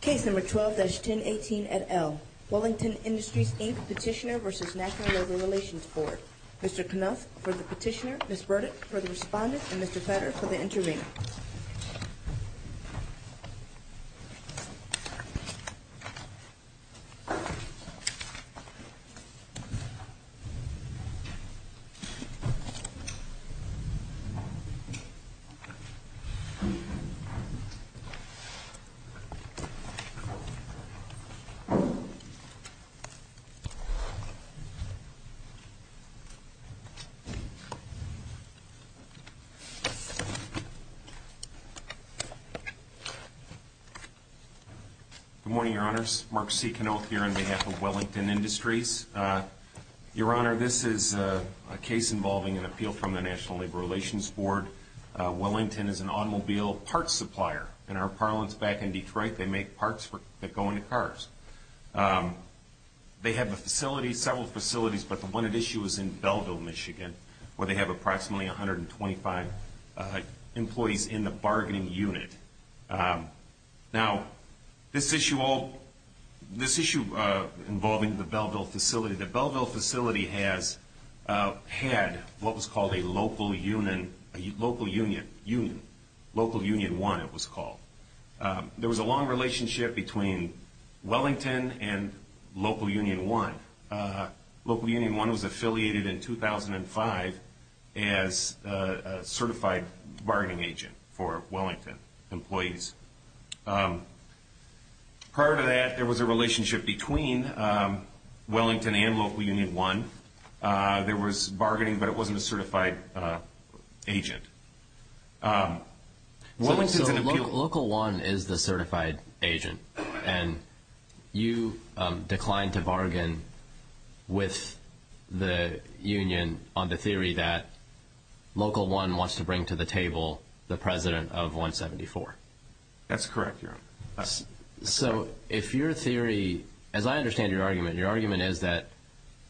Case number 12-1018 at L. Wellington Industries, Inc. Petitioner v. National Labor Relations Board. Mr. Knuth for the petitioner, Ms. Burdick for the respondent, and Mr. Fetter for the intervener. Good morning, Your Honors. Mark C. Knuth here on behalf of Wellington Industries. Your Honor, this is a case involving an appeal from the National Labor Relations Board. Wellington is an automobile parts supplier. In our parlance back in Detroit, they make parts that go into cars. They have several facilities, but the one at issue is in Belleville, Michigan, where they have approximately 125 employees in the bargaining unit. Now, this issue involving the Belleville facility, the Belleville facility has had what was called a local union, a local union, union, local union one it was called. There was a long relationship between Wellington and local union one. Local union one was affiliated in 2005 as a certified bargaining agent for Wellington and local union one. There was bargaining, but it wasn't a certified agent. So, local one is the certified agent, and you declined to bargain with the union on the theory that local one wants to bring to the table the president of 174. That's correct, Your Honor. So, if your theory, as I understand your argument, your argument is that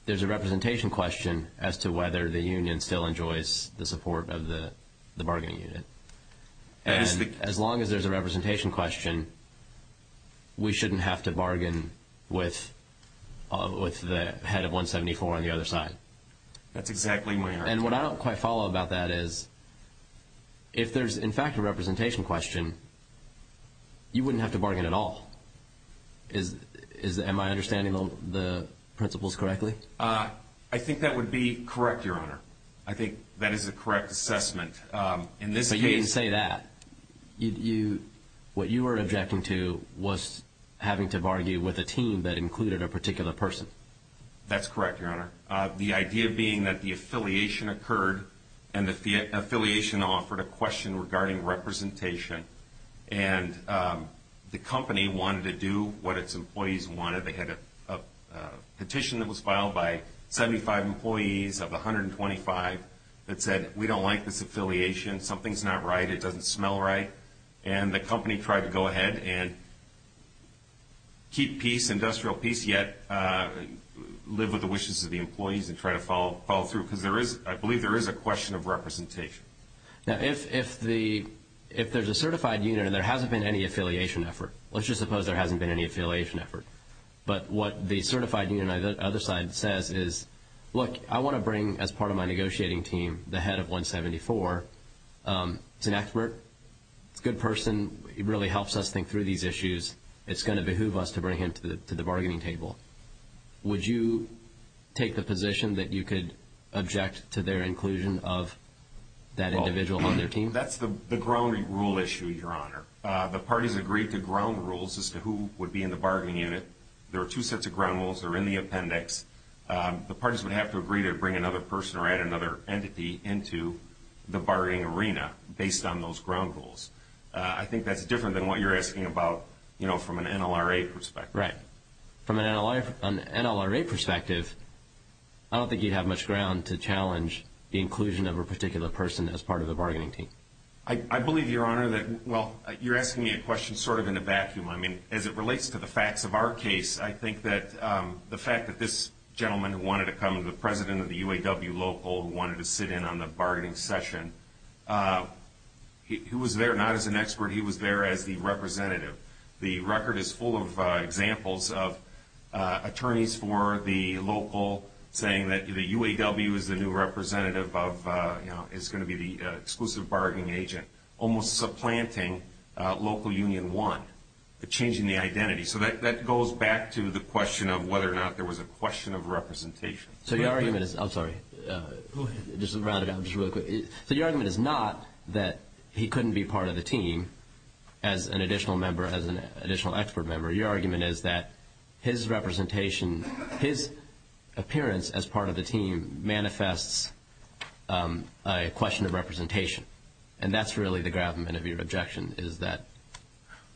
there's a representation question as to whether the union still enjoys the support of the bargaining unit. And as long as there's a representation question, we shouldn't have to bargain with the head of 174 on the other side. That's exactly my argument. And what I don't quite follow about that is, if there's in fact a representation question, you wouldn't have to bargain at all. Am I understanding the principles correctly? I think that would be correct, Your Honor. I think that is a correct assessment. But you didn't say that. What you were objecting to was having to bargain with a team that included a particular person. That's correct, Your Honor. The idea being that the affiliation occurred, and the affiliation offered a question regarding representation. And the company wanted to do what its employees wanted. They had a petition that was filed by 75 employees of 125 that said, we don't like this affiliation. Something's not right. It doesn't smell right. And the company tried to go ahead and keep peace, industrial peace, yet live with the wishes of the employees and try to follow through. Because I believe there is a question of representation. Now, if there's a certified unit and there hasn't been any affiliation effort, let's just suppose there hasn't been any affiliation effort. But what the certified union on the other side says is, look, I want to bring, as part of my negotiating team, the head of 174. He's an expert. He's a good person. He really helps us think through these issues. It's going to behoove us to bring him to the bargaining table. Would you take the position that you could object to their inclusion of that individual on their team? That's the ground rule issue, Your Honor. The parties agreed to ground rules as to who would be in the bargaining unit. There are two sets of ground rules. They're in the appendix. The parties would have to agree to bring another person or add another entity into the bargaining arena based on those ground rules. I think that's different than what you're asking about, you know, from an NLRA perspective. Right. From an NLRA perspective, I don't think you'd have much ground to challenge the inclusion of a particular person as part of the bargaining team. I believe, Your Honor, that, well, you're asking me a question sort of in a vacuum. I mean, as it relates to the facts of our case, I think that the fact that this gentleman who wanted to come, the president of the UAW local who wanted to sit in on the bargaining session, he was there not as an expert. He was there as the representative. The record is full of examples of attorneys for the local saying that the UAW is the new representative of, you know, is going to be the exclusive bargaining agent, almost supplanting Local Union 1, changing the identity. So that goes back to the question of whether or not there was a question of representation. So your argument is, I'm sorry, just to round it out just real quick. So your argument is not that he couldn't be part of the team as an additional member, as an additional expert member. Your argument is that his representation, his appearance as part of the team manifests as a question of representation. And that's really the gravamen of your objection is that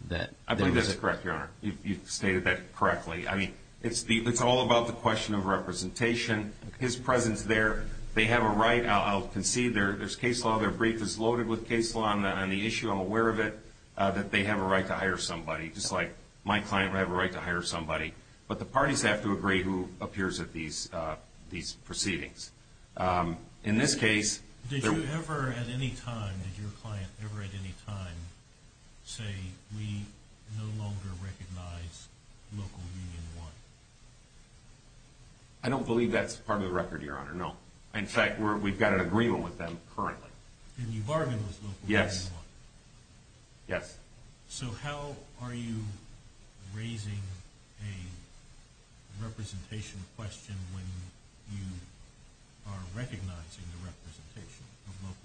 that... I believe that's correct, Your Honor. You've stated that correctly. I mean, it's all about the question of representation. His presence there, they have a right. I'll concede there's case law. Their brief is loaded with case law on the issue. I'm aware of it, that they have a right to hire somebody, just like my client would have a right to hire somebody. But the parties have to agree who appears at these proceedings. In this case... Did you ever at any time, did your client ever at any time say, we no longer recognize Local Union 1? I don't believe that's part of the record, Your Honor. No. In fact, we've got an agreement with them currently. And you bargained with Local Union 1? Yes. Yes. So how are you raising a representation question when you are recognizing the representation of Local Union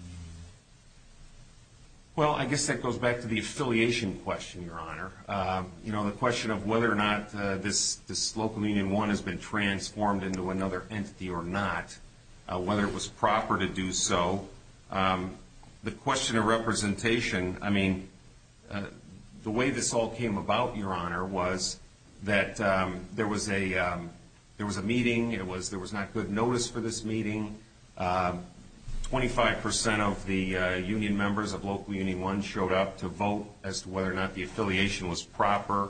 1? Well, I guess that goes back to the affiliation question, Your Honor. The question of whether or not this Local Union 1 has been transformed into another entity or not, whether it was the way this all came about, Your Honor, was that there was a meeting. There was not good notice for this meeting. Twenty-five percent of the union members of Local Union 1 showed up to vote as to whether or not the affiliation was proper.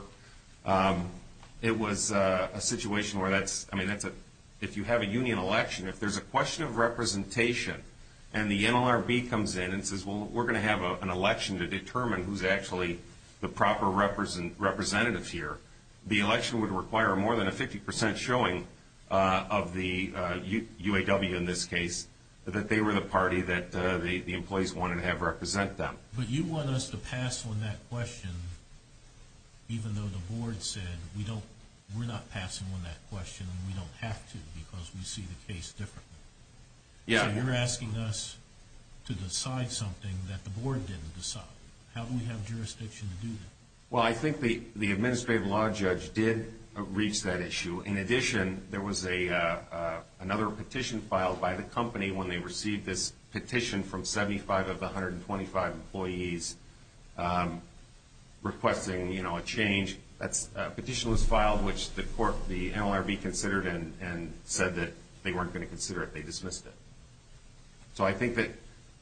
It was a situation where that's... If you have a union election, if there's a question of representation, and the NLRB comes in and says, well, we're going to have an election to determine who's actually the proper representative here, the election would require more than a 50 percent showing of the UAW in this case that they were the party that the employees wanted to have represent them. But you want us to pass on that question even though the board said we're not passing on that question and we don't have to because we see the case differently. Yeah. So you're asking us to decide something that the board didn't decide. How do we have jurisdiction to do that? Well, I think the administrative law judge did reach that issue. In addition, there was another petition filed by the company when they received this petition from 75 of the 125 employees requesting, you know, a change. That petition was filed, which the court, the NLRB considered and said that they weren't going to consider it. They dismissed it. So I think that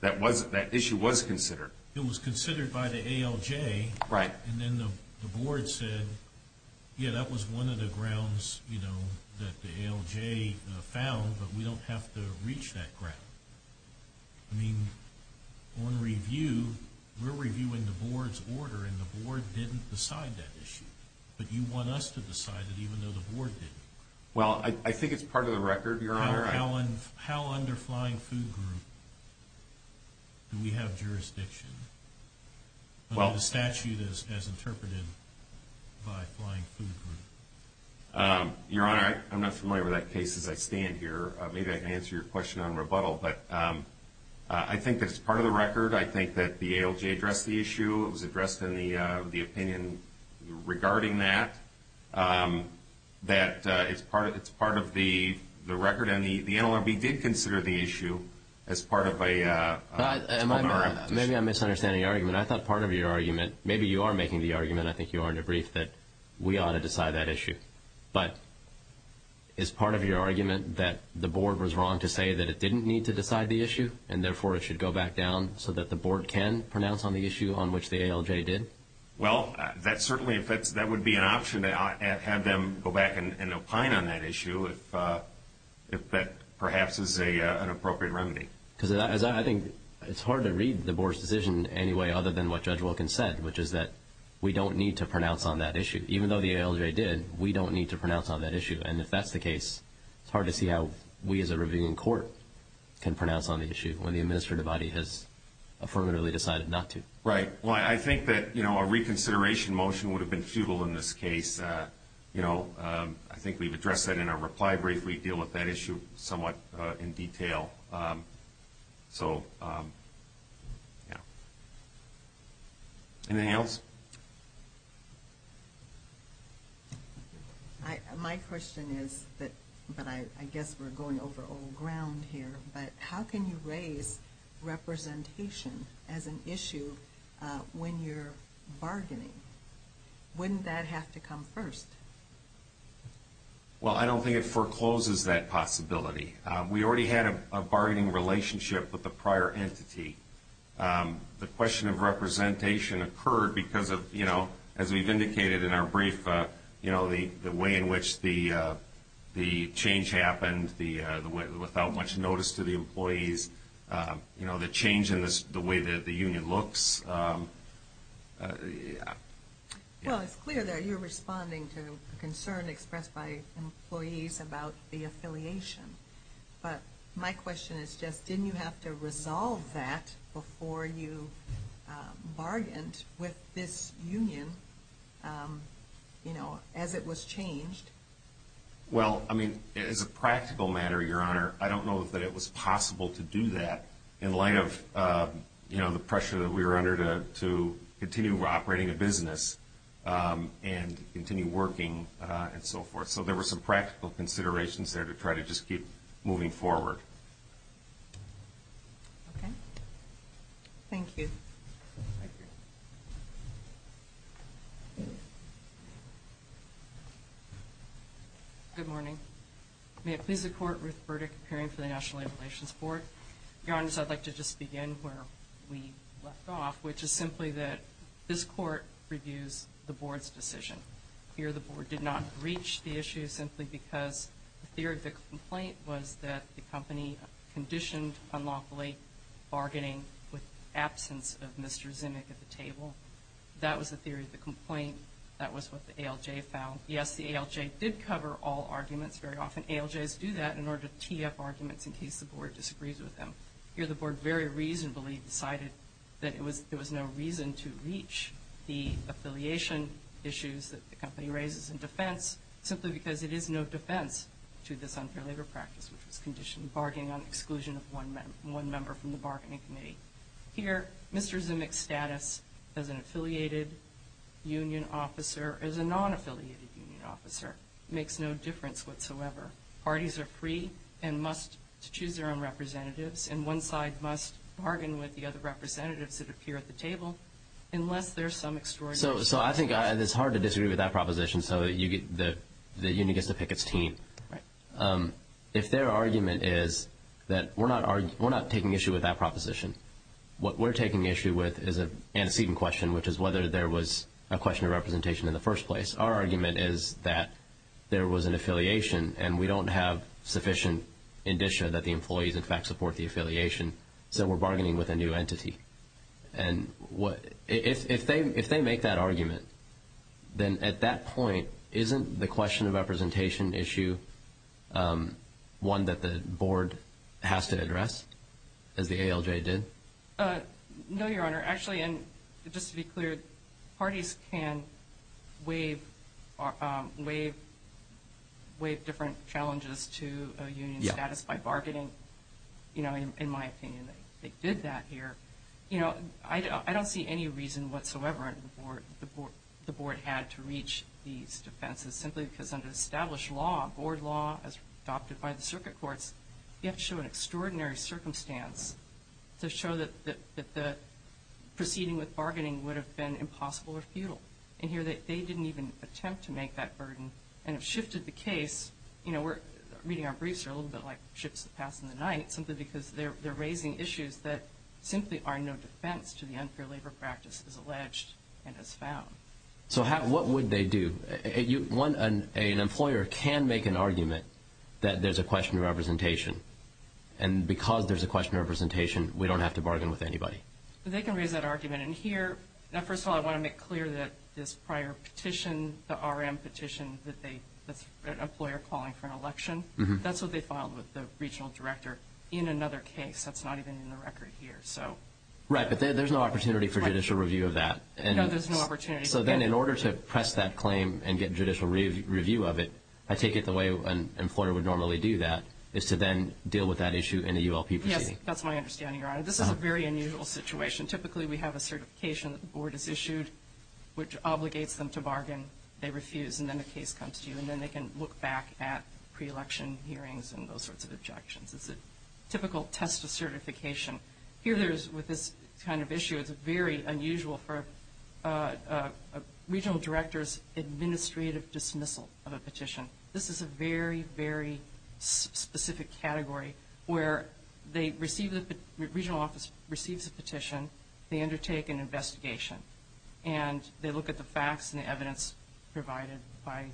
that issue was considered. It was considered by the ALJ. Right. And then the board said, yeah, that was one of the grounds, you know, that the ALJ found, but we don't have to reach that ground. I mean, on review, we're reviewing the board's order and the board didn't decide that issue. But you want us to decide it even though the Well, I think it's part of the record, Your Honor. How under Flying Food Group do we have jurisdiction under the statute as interpreted by Flying Food Group? Your Honor, I'm not familiar with that case as I stand here. Maybe I can answer your question on rebuttal. But I think that it's part of the record. I think that the ALJ addressed the issue. It was addressed in the opinion regarding that. That it's part of the record. And the NLRB did consider the issue as part of a Maybe I'm misunderstanding your argument. I thought part of your argument, maybe you are making the argument, I think you are in a brief, that we ought to decide that issue. But is part of your argument that the board was wrong to say that it didn't need to decide the issue and therefore it should go back down so that the board can pronounce on the issue on which the ALJ did? Well, that certainly would be an option to have them go back and opine on that issue if that perhaps is an appropriate remedy. Because I think it's hard to read the board's decision anyway other than what Judge Wilkins said, which is that we don't need to pronounce on that issue. Even though the ALJ did, we don't need to pronounce on that issue. And if that's the case, it's hard to see how we as a reviewing court can pronounce on the issue when the administrative body has affirmatively decided not to. Right. Well, I think that a reconsideration motion would have been futile in this case. I think we've addressed that in our reply brief. We deal with that issue somewhat in detail. So, yeah. Anything else? My question is, but I guess we're going over old ground here, but how can you raise representation as an issue when you're bargaining? Wouldn't that have to come first? Well, I don't think it forecloses that possibility. We already had a bargaining relationship with the union. As we've indicated in our brief, the way in which the change happened, without much notice to the employees, the change in the way that the union looks. Well, it's clear that you're responding to a concern expressed by employees about the affiliation. But my question is just, didn't you have to resolve that before you bargained with this union as it was changed? Well, I mean, as a practical matter, Your Honor, I don't know that it was possible to do that in light of the pressure that we were under to continue operating a business and continue working and so forth. So there were some practical considerations there to try to just keep moving forward. Okay. Thank you. Good morning. May it please the Court, Ruth Burdick, appearing for the National Labor Relations Board. Your Honors, I'd like to just begin where we left off, which is simply that this Court reviews the Board's issue simply because the theory of the complaint was that the company conditioned unlawfully bargaining with absence of Mr. Zimmick at the table. That was the theory of the complaint. That was what the ALJ found. Yes, the ALJ did cover all arguments. Very often ALJs do that in order to tee up arguments in case the Board disagrees with them. Here the Board very reasonably decided that it was because it is no defense to this unfair labor practice, which was conditioned bargaining on exclusion of one member from the bargaining committee. Here, Mr. Zimmick's status as an affiliated union officer, as a non-affiliated union officer, makes no difference whatsoever. Parties are free and must choose their own representatives, and one side must bargain with the other representatives that appear at the table unless there's some extraordinary So I think it's hard to disagree with that proposition so that the union gets to pick its team. If their argument is that we're not taking issue with that proposition, what we're taking issue with is an antecedent question, which is whether there was a question of representation in the first place. Our argument is that there was an affiliation and we don't have sufficient indicia that the employees in fact support the affiliation, so we're bargaining with a new entity. And if they make that argument, then at that point, isn't the question of representation issue one that the Board has to address, as the ALJ did? No, Your Honor. Actually, and just to be clear, parties can waive different challenges to a union's status by bargaining. In my opinion, they did that here. I don't see any reason whatsoever that the Board had to reach these defenses simply because under established law, board law, as adopted by the circuit courts, you have to show an extraordinary circumstance to show that the proceeding with bargaining would have been sufficient to make that burden. And if shifted the case, you know, reading our briefs are a little bit like ships that pass in the night, simply because they're raising issues that simply are no defense to the unfair labor practice as alleged and as found. So what would they do? An employer can make an argument that there's a question of representation, and because there's a question of representation, we don't have to bargain with anybody. But they can raise that argument in here. Now, first of all, I want to make clear that this prior petition, the RM petition, that an employer calling for an election, that's what they filed with the regional director in another case. That's not even in the record here. Right, but there's no opportunity for judicial review of that. No, there's no opportunity. So then in order to press that claim and get judicial review of it, I take it the way an employer would normally do that is to then deal with that issue in a ULP proceeding. That's my understanding, Your Honor. This is a very unusual situation. Typically, we have a certification that the board has issued, which obligates them to bargain. They refuse, and then the case comes to you, and then they can look back at pre-election hearings and those sorts of objections. It's a typical test of certification. Here there is, with this kind of issue, it's very unusual for a regional director's administrative dismissal of a petition. This is a very, very specific category where the regional office receives a petition, they undertake an investigation, and they look at the facts and the evidence provided by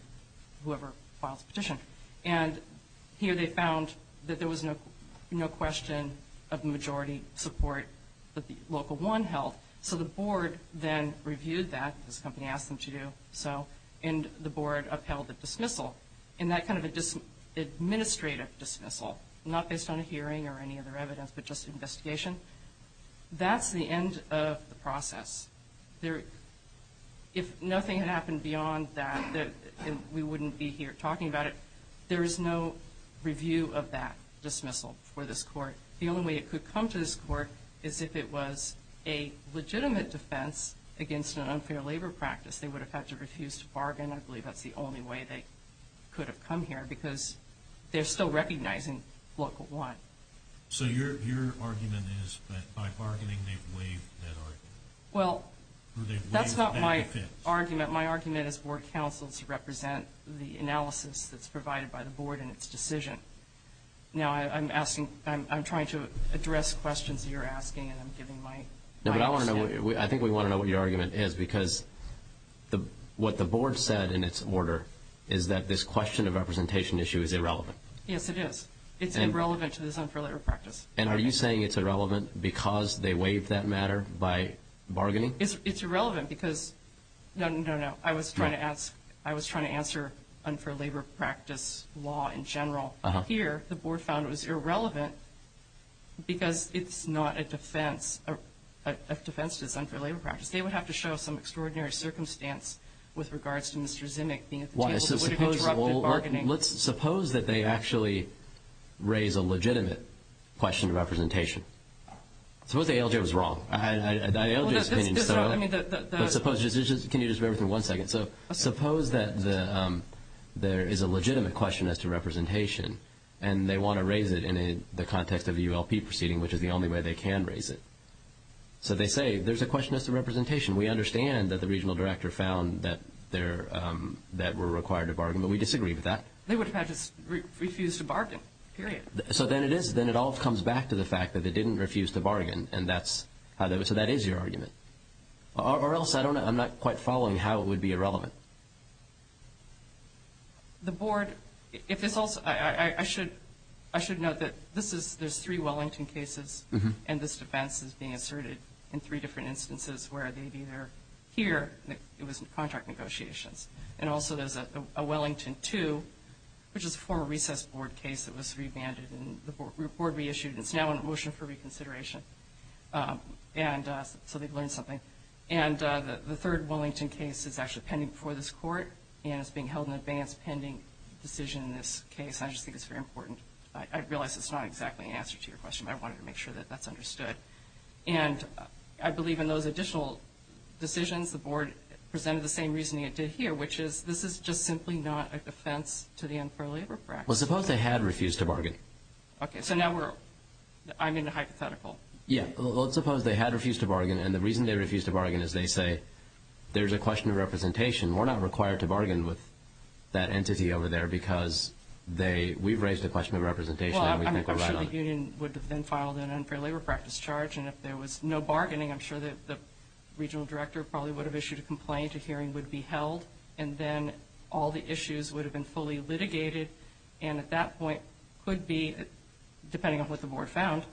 whoever files the petition. And here they found that there was no question of majority support that the Local 1 held. So the board then reviewed that, as the company asked them to do, and the board upheld the dismissal. And that kind of administrative dismissal, not based on a hearing or any other evidence, but just an investigation, that's the end of the process. If nothing had happened beyond that, we wouldn't be here talking about it. There is no review of that dismissal for this court. The only way it could come to this court is if it was a legitimate defense against an unfair labor practice. They would have had to refuse to bargain. I believe that's the only way they could have come here, because they're still recognizing Local 1. So your argument is that by bargaining they've waived that argument? Well, that's not my argument. My argument is board counsel's represent the analysis that's provided by the board in its decision. Now, I'm asking, I'm trying to address questions you're asking, and I'm giving my extent. No, but I want to know, I think we want to know what your argument is, because what the board said in its order is that this question of representation issue is irrelevant. Yes, it is. It's irrelevant to this unfair labor practice. And are you saying it's irrelevant because they waived that matter by bargaining? It's irrelevant because, no, no, no, I was trying to answer unfair labor practice law in general. Here, the board found it was irrelevant because it's not a defense to this unfair labor practice. They would have to show some extraordinary circumstance with regards to Mr. Zimmick being at the table that would have interrupted bargaining. Well, let's suppose that they actually raise a legitimate question of representation. Suppose the ALJ was wrong. The ALJ's opinion is still wrong. Can you just bear with me one second? Suppose that there is a legitimate question as to representation, and they want to raise it in the context of a ULP proceeding, which is the only way they can raise it. So they say, there's a question as to representation. We understand that the regional director found that we're required to bargain, but we disagree with that. They would have just refused to bargain, period. So then it all comes back to the fact that they didn't refuse to bargain, so that is your argument. Or else I'm not quite following how it would be irrelevant. The board, I should note that there's three Wellington cases, and this defense is being asserted in three different instances where they either hear that it was contract negotiations, and also there's a Wellington 2, which is a former recess board case that was revanded and the board reissued. It's now under motion for reconsideration, so they've learned something. And the third Wellington case is actually pending before this court, and it's being held in advance, pending decision in this case. I just think it's very important. I realize it's not exactly an answer to your question, but I wanted to make sure that that's understood. And I believe in those additional decisions, the board presented the same reasoning it did here, which is this is just simply not a defense to the unfair labor practice. Well, suppose they had refused to bargain. Okay, so now we're, I'm in a hypothetical. Yeah, well, suppose they had refused to bargain, and the reason they refused to bargain is they say there's a question of representation. We're not required to bargain with that entity over there because they, we've raised a question of representation, and we think we're right on it. I'm sure the union would have then filed an unfair labor practice charge, and if there was no bargaining, I'm sure that the regional director probably would have issued a complaint. A hearing would be held, and then all the issues would have been fully litigated, and at that point could be, depending on what the board found,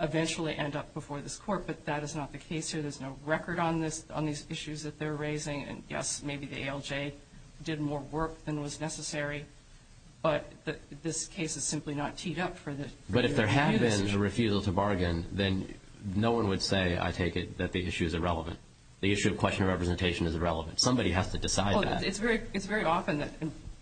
eventually end up before this court. But that is not the case here. There's no record on this, on these issues that they're raising, and yes, maybe the ALJ did more work than was necessary. But this case is simply not teed up for the union. But if there had been a refusal to bargain, then no one would say, I take it, that the issue is irrelevant. The issue of question of representation is irrelevant. Somebody has to decide that. Well, it's very often that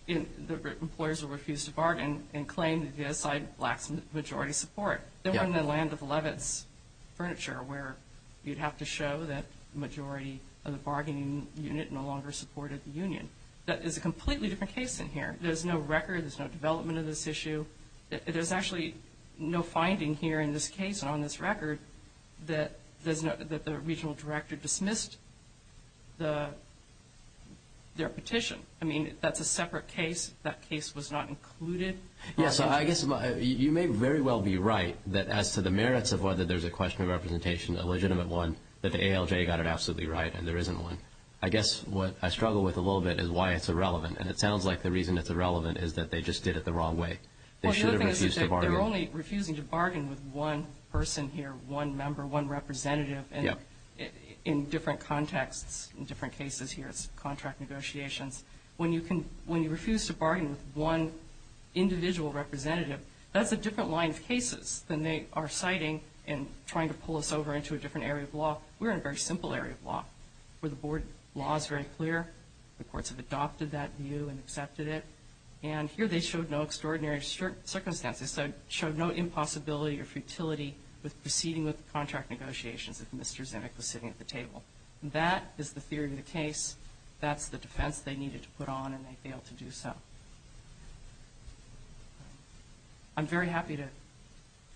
employers will refuse to bargain and claim that the other side lacks majority support. They're in the land of Levitt's furniture where you'd have to show that the majority of the bargaining unit no longer supported the union. That is a completely different case than here. There's no record. There's no development of this issue. There's actually no finding here in this case on this record that the regional director dismissed their petition. I mean, that's a separate case. That case was not included. Yeah, so I guess you may very well be right that as to the merits of whether there's a question of representation, a legitimate one, that the ALJ got it absolutely right, and there isn't one. I guess what I struggle with a little bit is why it's irrelevant. And it sounds like the reason it's irrelevant is that they just did it the wrong way. They should have refused to bargain. Well, the other thing is that they're only refusing to bargain with one person here, one member, one representative. In different contexts, in different cases here, it's contract negotiations. When you refuse to bargain with one individual representative, that's a different line of cases than they are citing and trying to pull us over into a different area of law. We're in a very simple area of law where the board law is very clear. The courts have adopted that view and accepted it. And here they showed no extraordinary circumstances. They showed no impossibility or futility with proceeding with the contract negotiations if Mr. Zimmick was sitting at the table. That is the theory of the case. That's the defense they needed to put on, and they failed to do so. I'm very happy to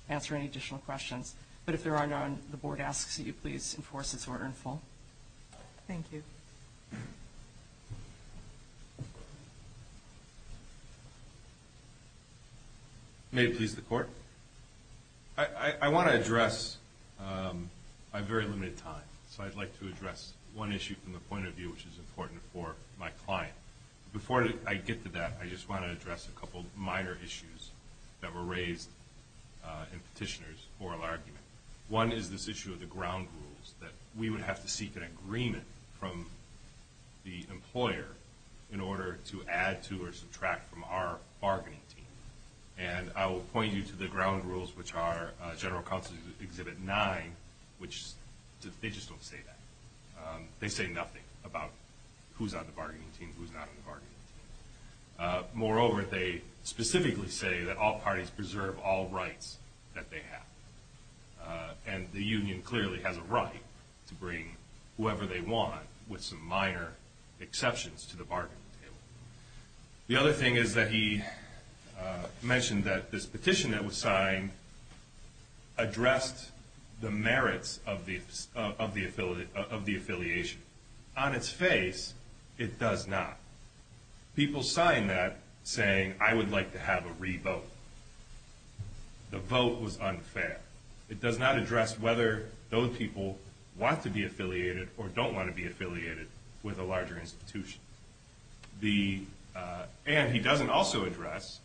answer any additional questions. But if there are none, the board asks that you please enforce this order in full. Thank you. May it please the court. I want to address, I have very limited time, so I'd like to address one issue from the point of view which is important for my client. Before I get to that, I just want to address a couple minor issues that were raised in Petitioner's oral argument. One is this issue of the ground rules, that we would have to seek an agreement from the employer in order to add to or subtract from our bargaining team. And I will point you to the ground rules which are General Counsel's Exhibit 9, which they just don't say that. They say nothing about who's on the bargaining team, who's not on the bargaining team. Moreover, they specifically say that all parties preserve all rights that they have. And the union clearly has a right to bring whoever they want with some minor exceptions to the bargaining table. The other thing is that he mentioned that this petition that was signed addressed the merits of the affiliation. On its face, it does not. People signed that saying, I would like to have a re-vote. The vote was unfair. It does not address whether those people want to be affiliated or don't want to be affiliated with a larger institution. And he doesn't also address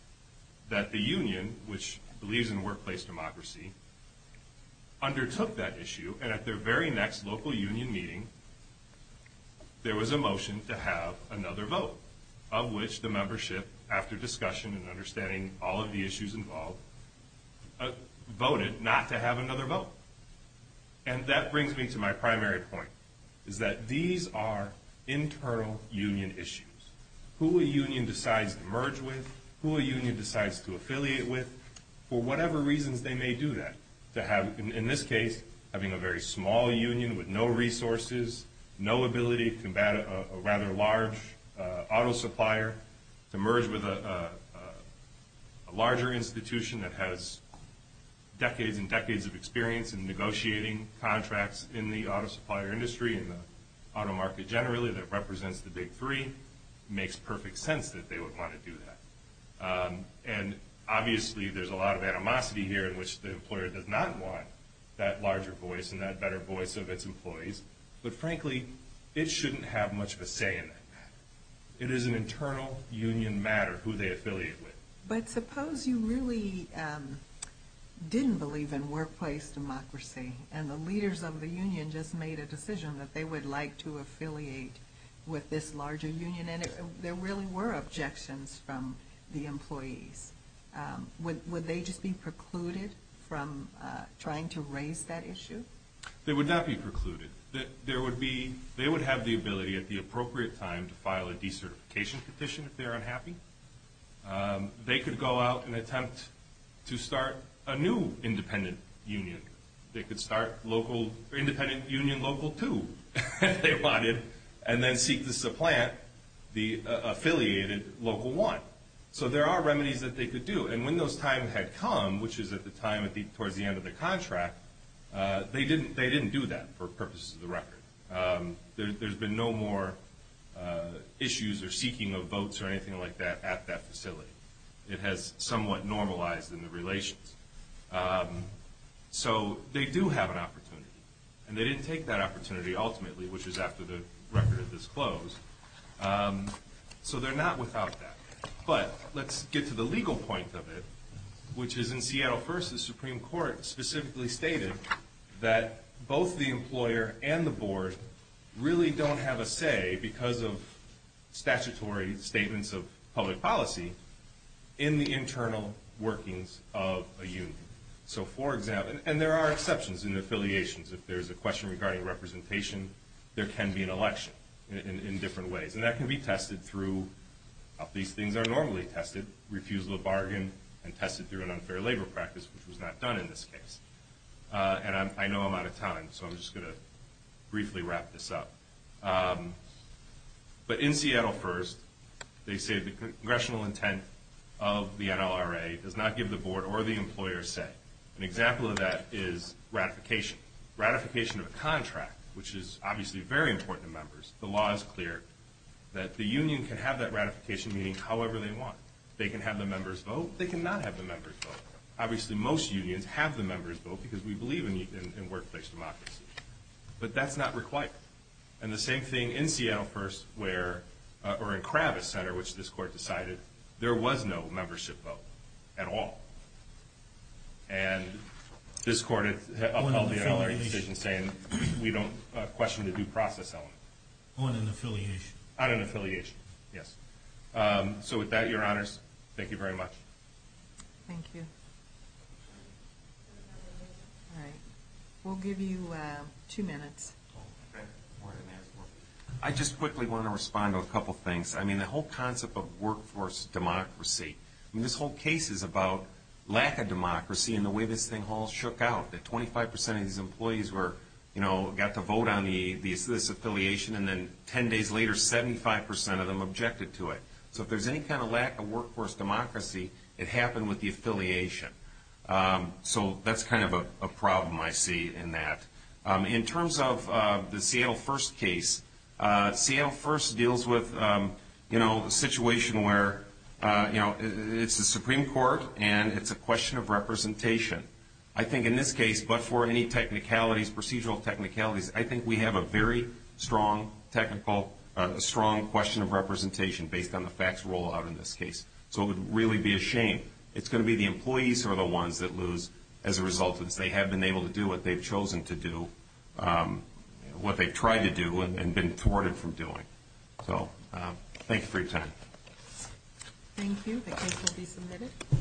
that the union, which believes in workplace democracy, undertook that issue. And at their very next local union meeting, there was a motion to have another vote, of which the membership, after discussion and understanding all of the issues involved, voted not to have another vote. And that brings me to my primary point, is that these are internal union issues. Who a union decides to merge with, who a union decides to affiliate with, for whatever reasons they may do that. In this case, having a very small union with no resources, no ability to combat a rather large auto supplier, to merge with a larger institution that has decades and decades of experience in negotiating contracts in the auto supplier industry, in the auto market generally, that represents the big three, makes perfect sense that they would want to do that. And obviously, there's a lot of animosity here in which the employer does not want that larger voice and that better voice of its employees. But frankly, it shouldn't have much of a say in that. It is an internal union matter, who they affiliate with. But suppose you really didn't believe in workplace democracy, and the leaders of the union just made a decision that they would like to affiliate with this larger union, and there really were objections from the employees. Would they just be precluded from trying to raise that issue? They would not be precluded. They would have the ability at the appropriate time to file a decertification petition if they're unhappy. They could go out and attempt to start a new independent union. They could start Independent Union Local 2, if they wanted, and then seek to supplant the affiliated Local 1. So there are remedies that they could do. And when those times had come, which was at the time towards the end of the contract, they didn't do that for purposes of the record. There's been no more issues or seeking of votes or anything like that at that facility. It has somewhat normalized in the relations. So they do have an opportunity. And they didn't take that opportunity ultimately, which was after the record of this closed. So they're not without that. But let's get to the legal point of it, which is in Seattle First, the Supreme Court specifically stated that both the employer and the board really don't have a say, because of statutory statements of public policy, in the internal workings of a union. And there are exceptions in affiliations. If there's a question regarding representation, there can be an election in different ways. And that can be tested through, these things are normally tested, refusal of bargain, and tested through an unfair labor practice, which was not done in this case. And I know I'm out of time, so I'm just going to briefly wrap this up. But in Seattle First, they say the congressional intent of the NLRA does not give the board or the employer a say. An example of that is ratification. Ratification of a contract, which is obviously very important to members. The law is clear that the union can have that ratification meeting however they want. They can have the members vote, they cannot have the members vote. Obviously most unions have the members vote, because we believe in workplace democracy. But that's not required. And the same thing in Seattle First, or in Kravis Center, which this court decided, there was no membership vote at all. And this court upheld the NLRA decision, saying we don't question the due process element. On an affiliation. On an affiliation, yes. So with that, your honors, thank you very much. Thank you. All right. We'll give you two minutes. I just quickly want to respond to a couple things. I mean, the whole concept of workforce democracy, I mean, this whole case is about lack of democracy and the way this thing all shook out. That 25% of these employees were, you know, got to vote on this affiliation, and then 10 days later 75% of them objected to it. So if there's any kind of lack of workforce democracy, it happened with the affiliation. So that's kind of a problem I see in that. In terms of the Seattle First case, Seattle First deals with, you know, a situation where, you know, it's the Supreme Court, and it's a question of representation. I think in this case, but for any technicalities, procedural technicalities, I think we have a very strong technical, strong question of representation based on the facts rolled out in this case. So it would really be a shame. It's going to be the employees who are the ones that lose as a result. They have been able to do what they've chosen to do, what they've tried to do and been thwarted from doing. So thank you for your time. Thank you. The case will be submitted.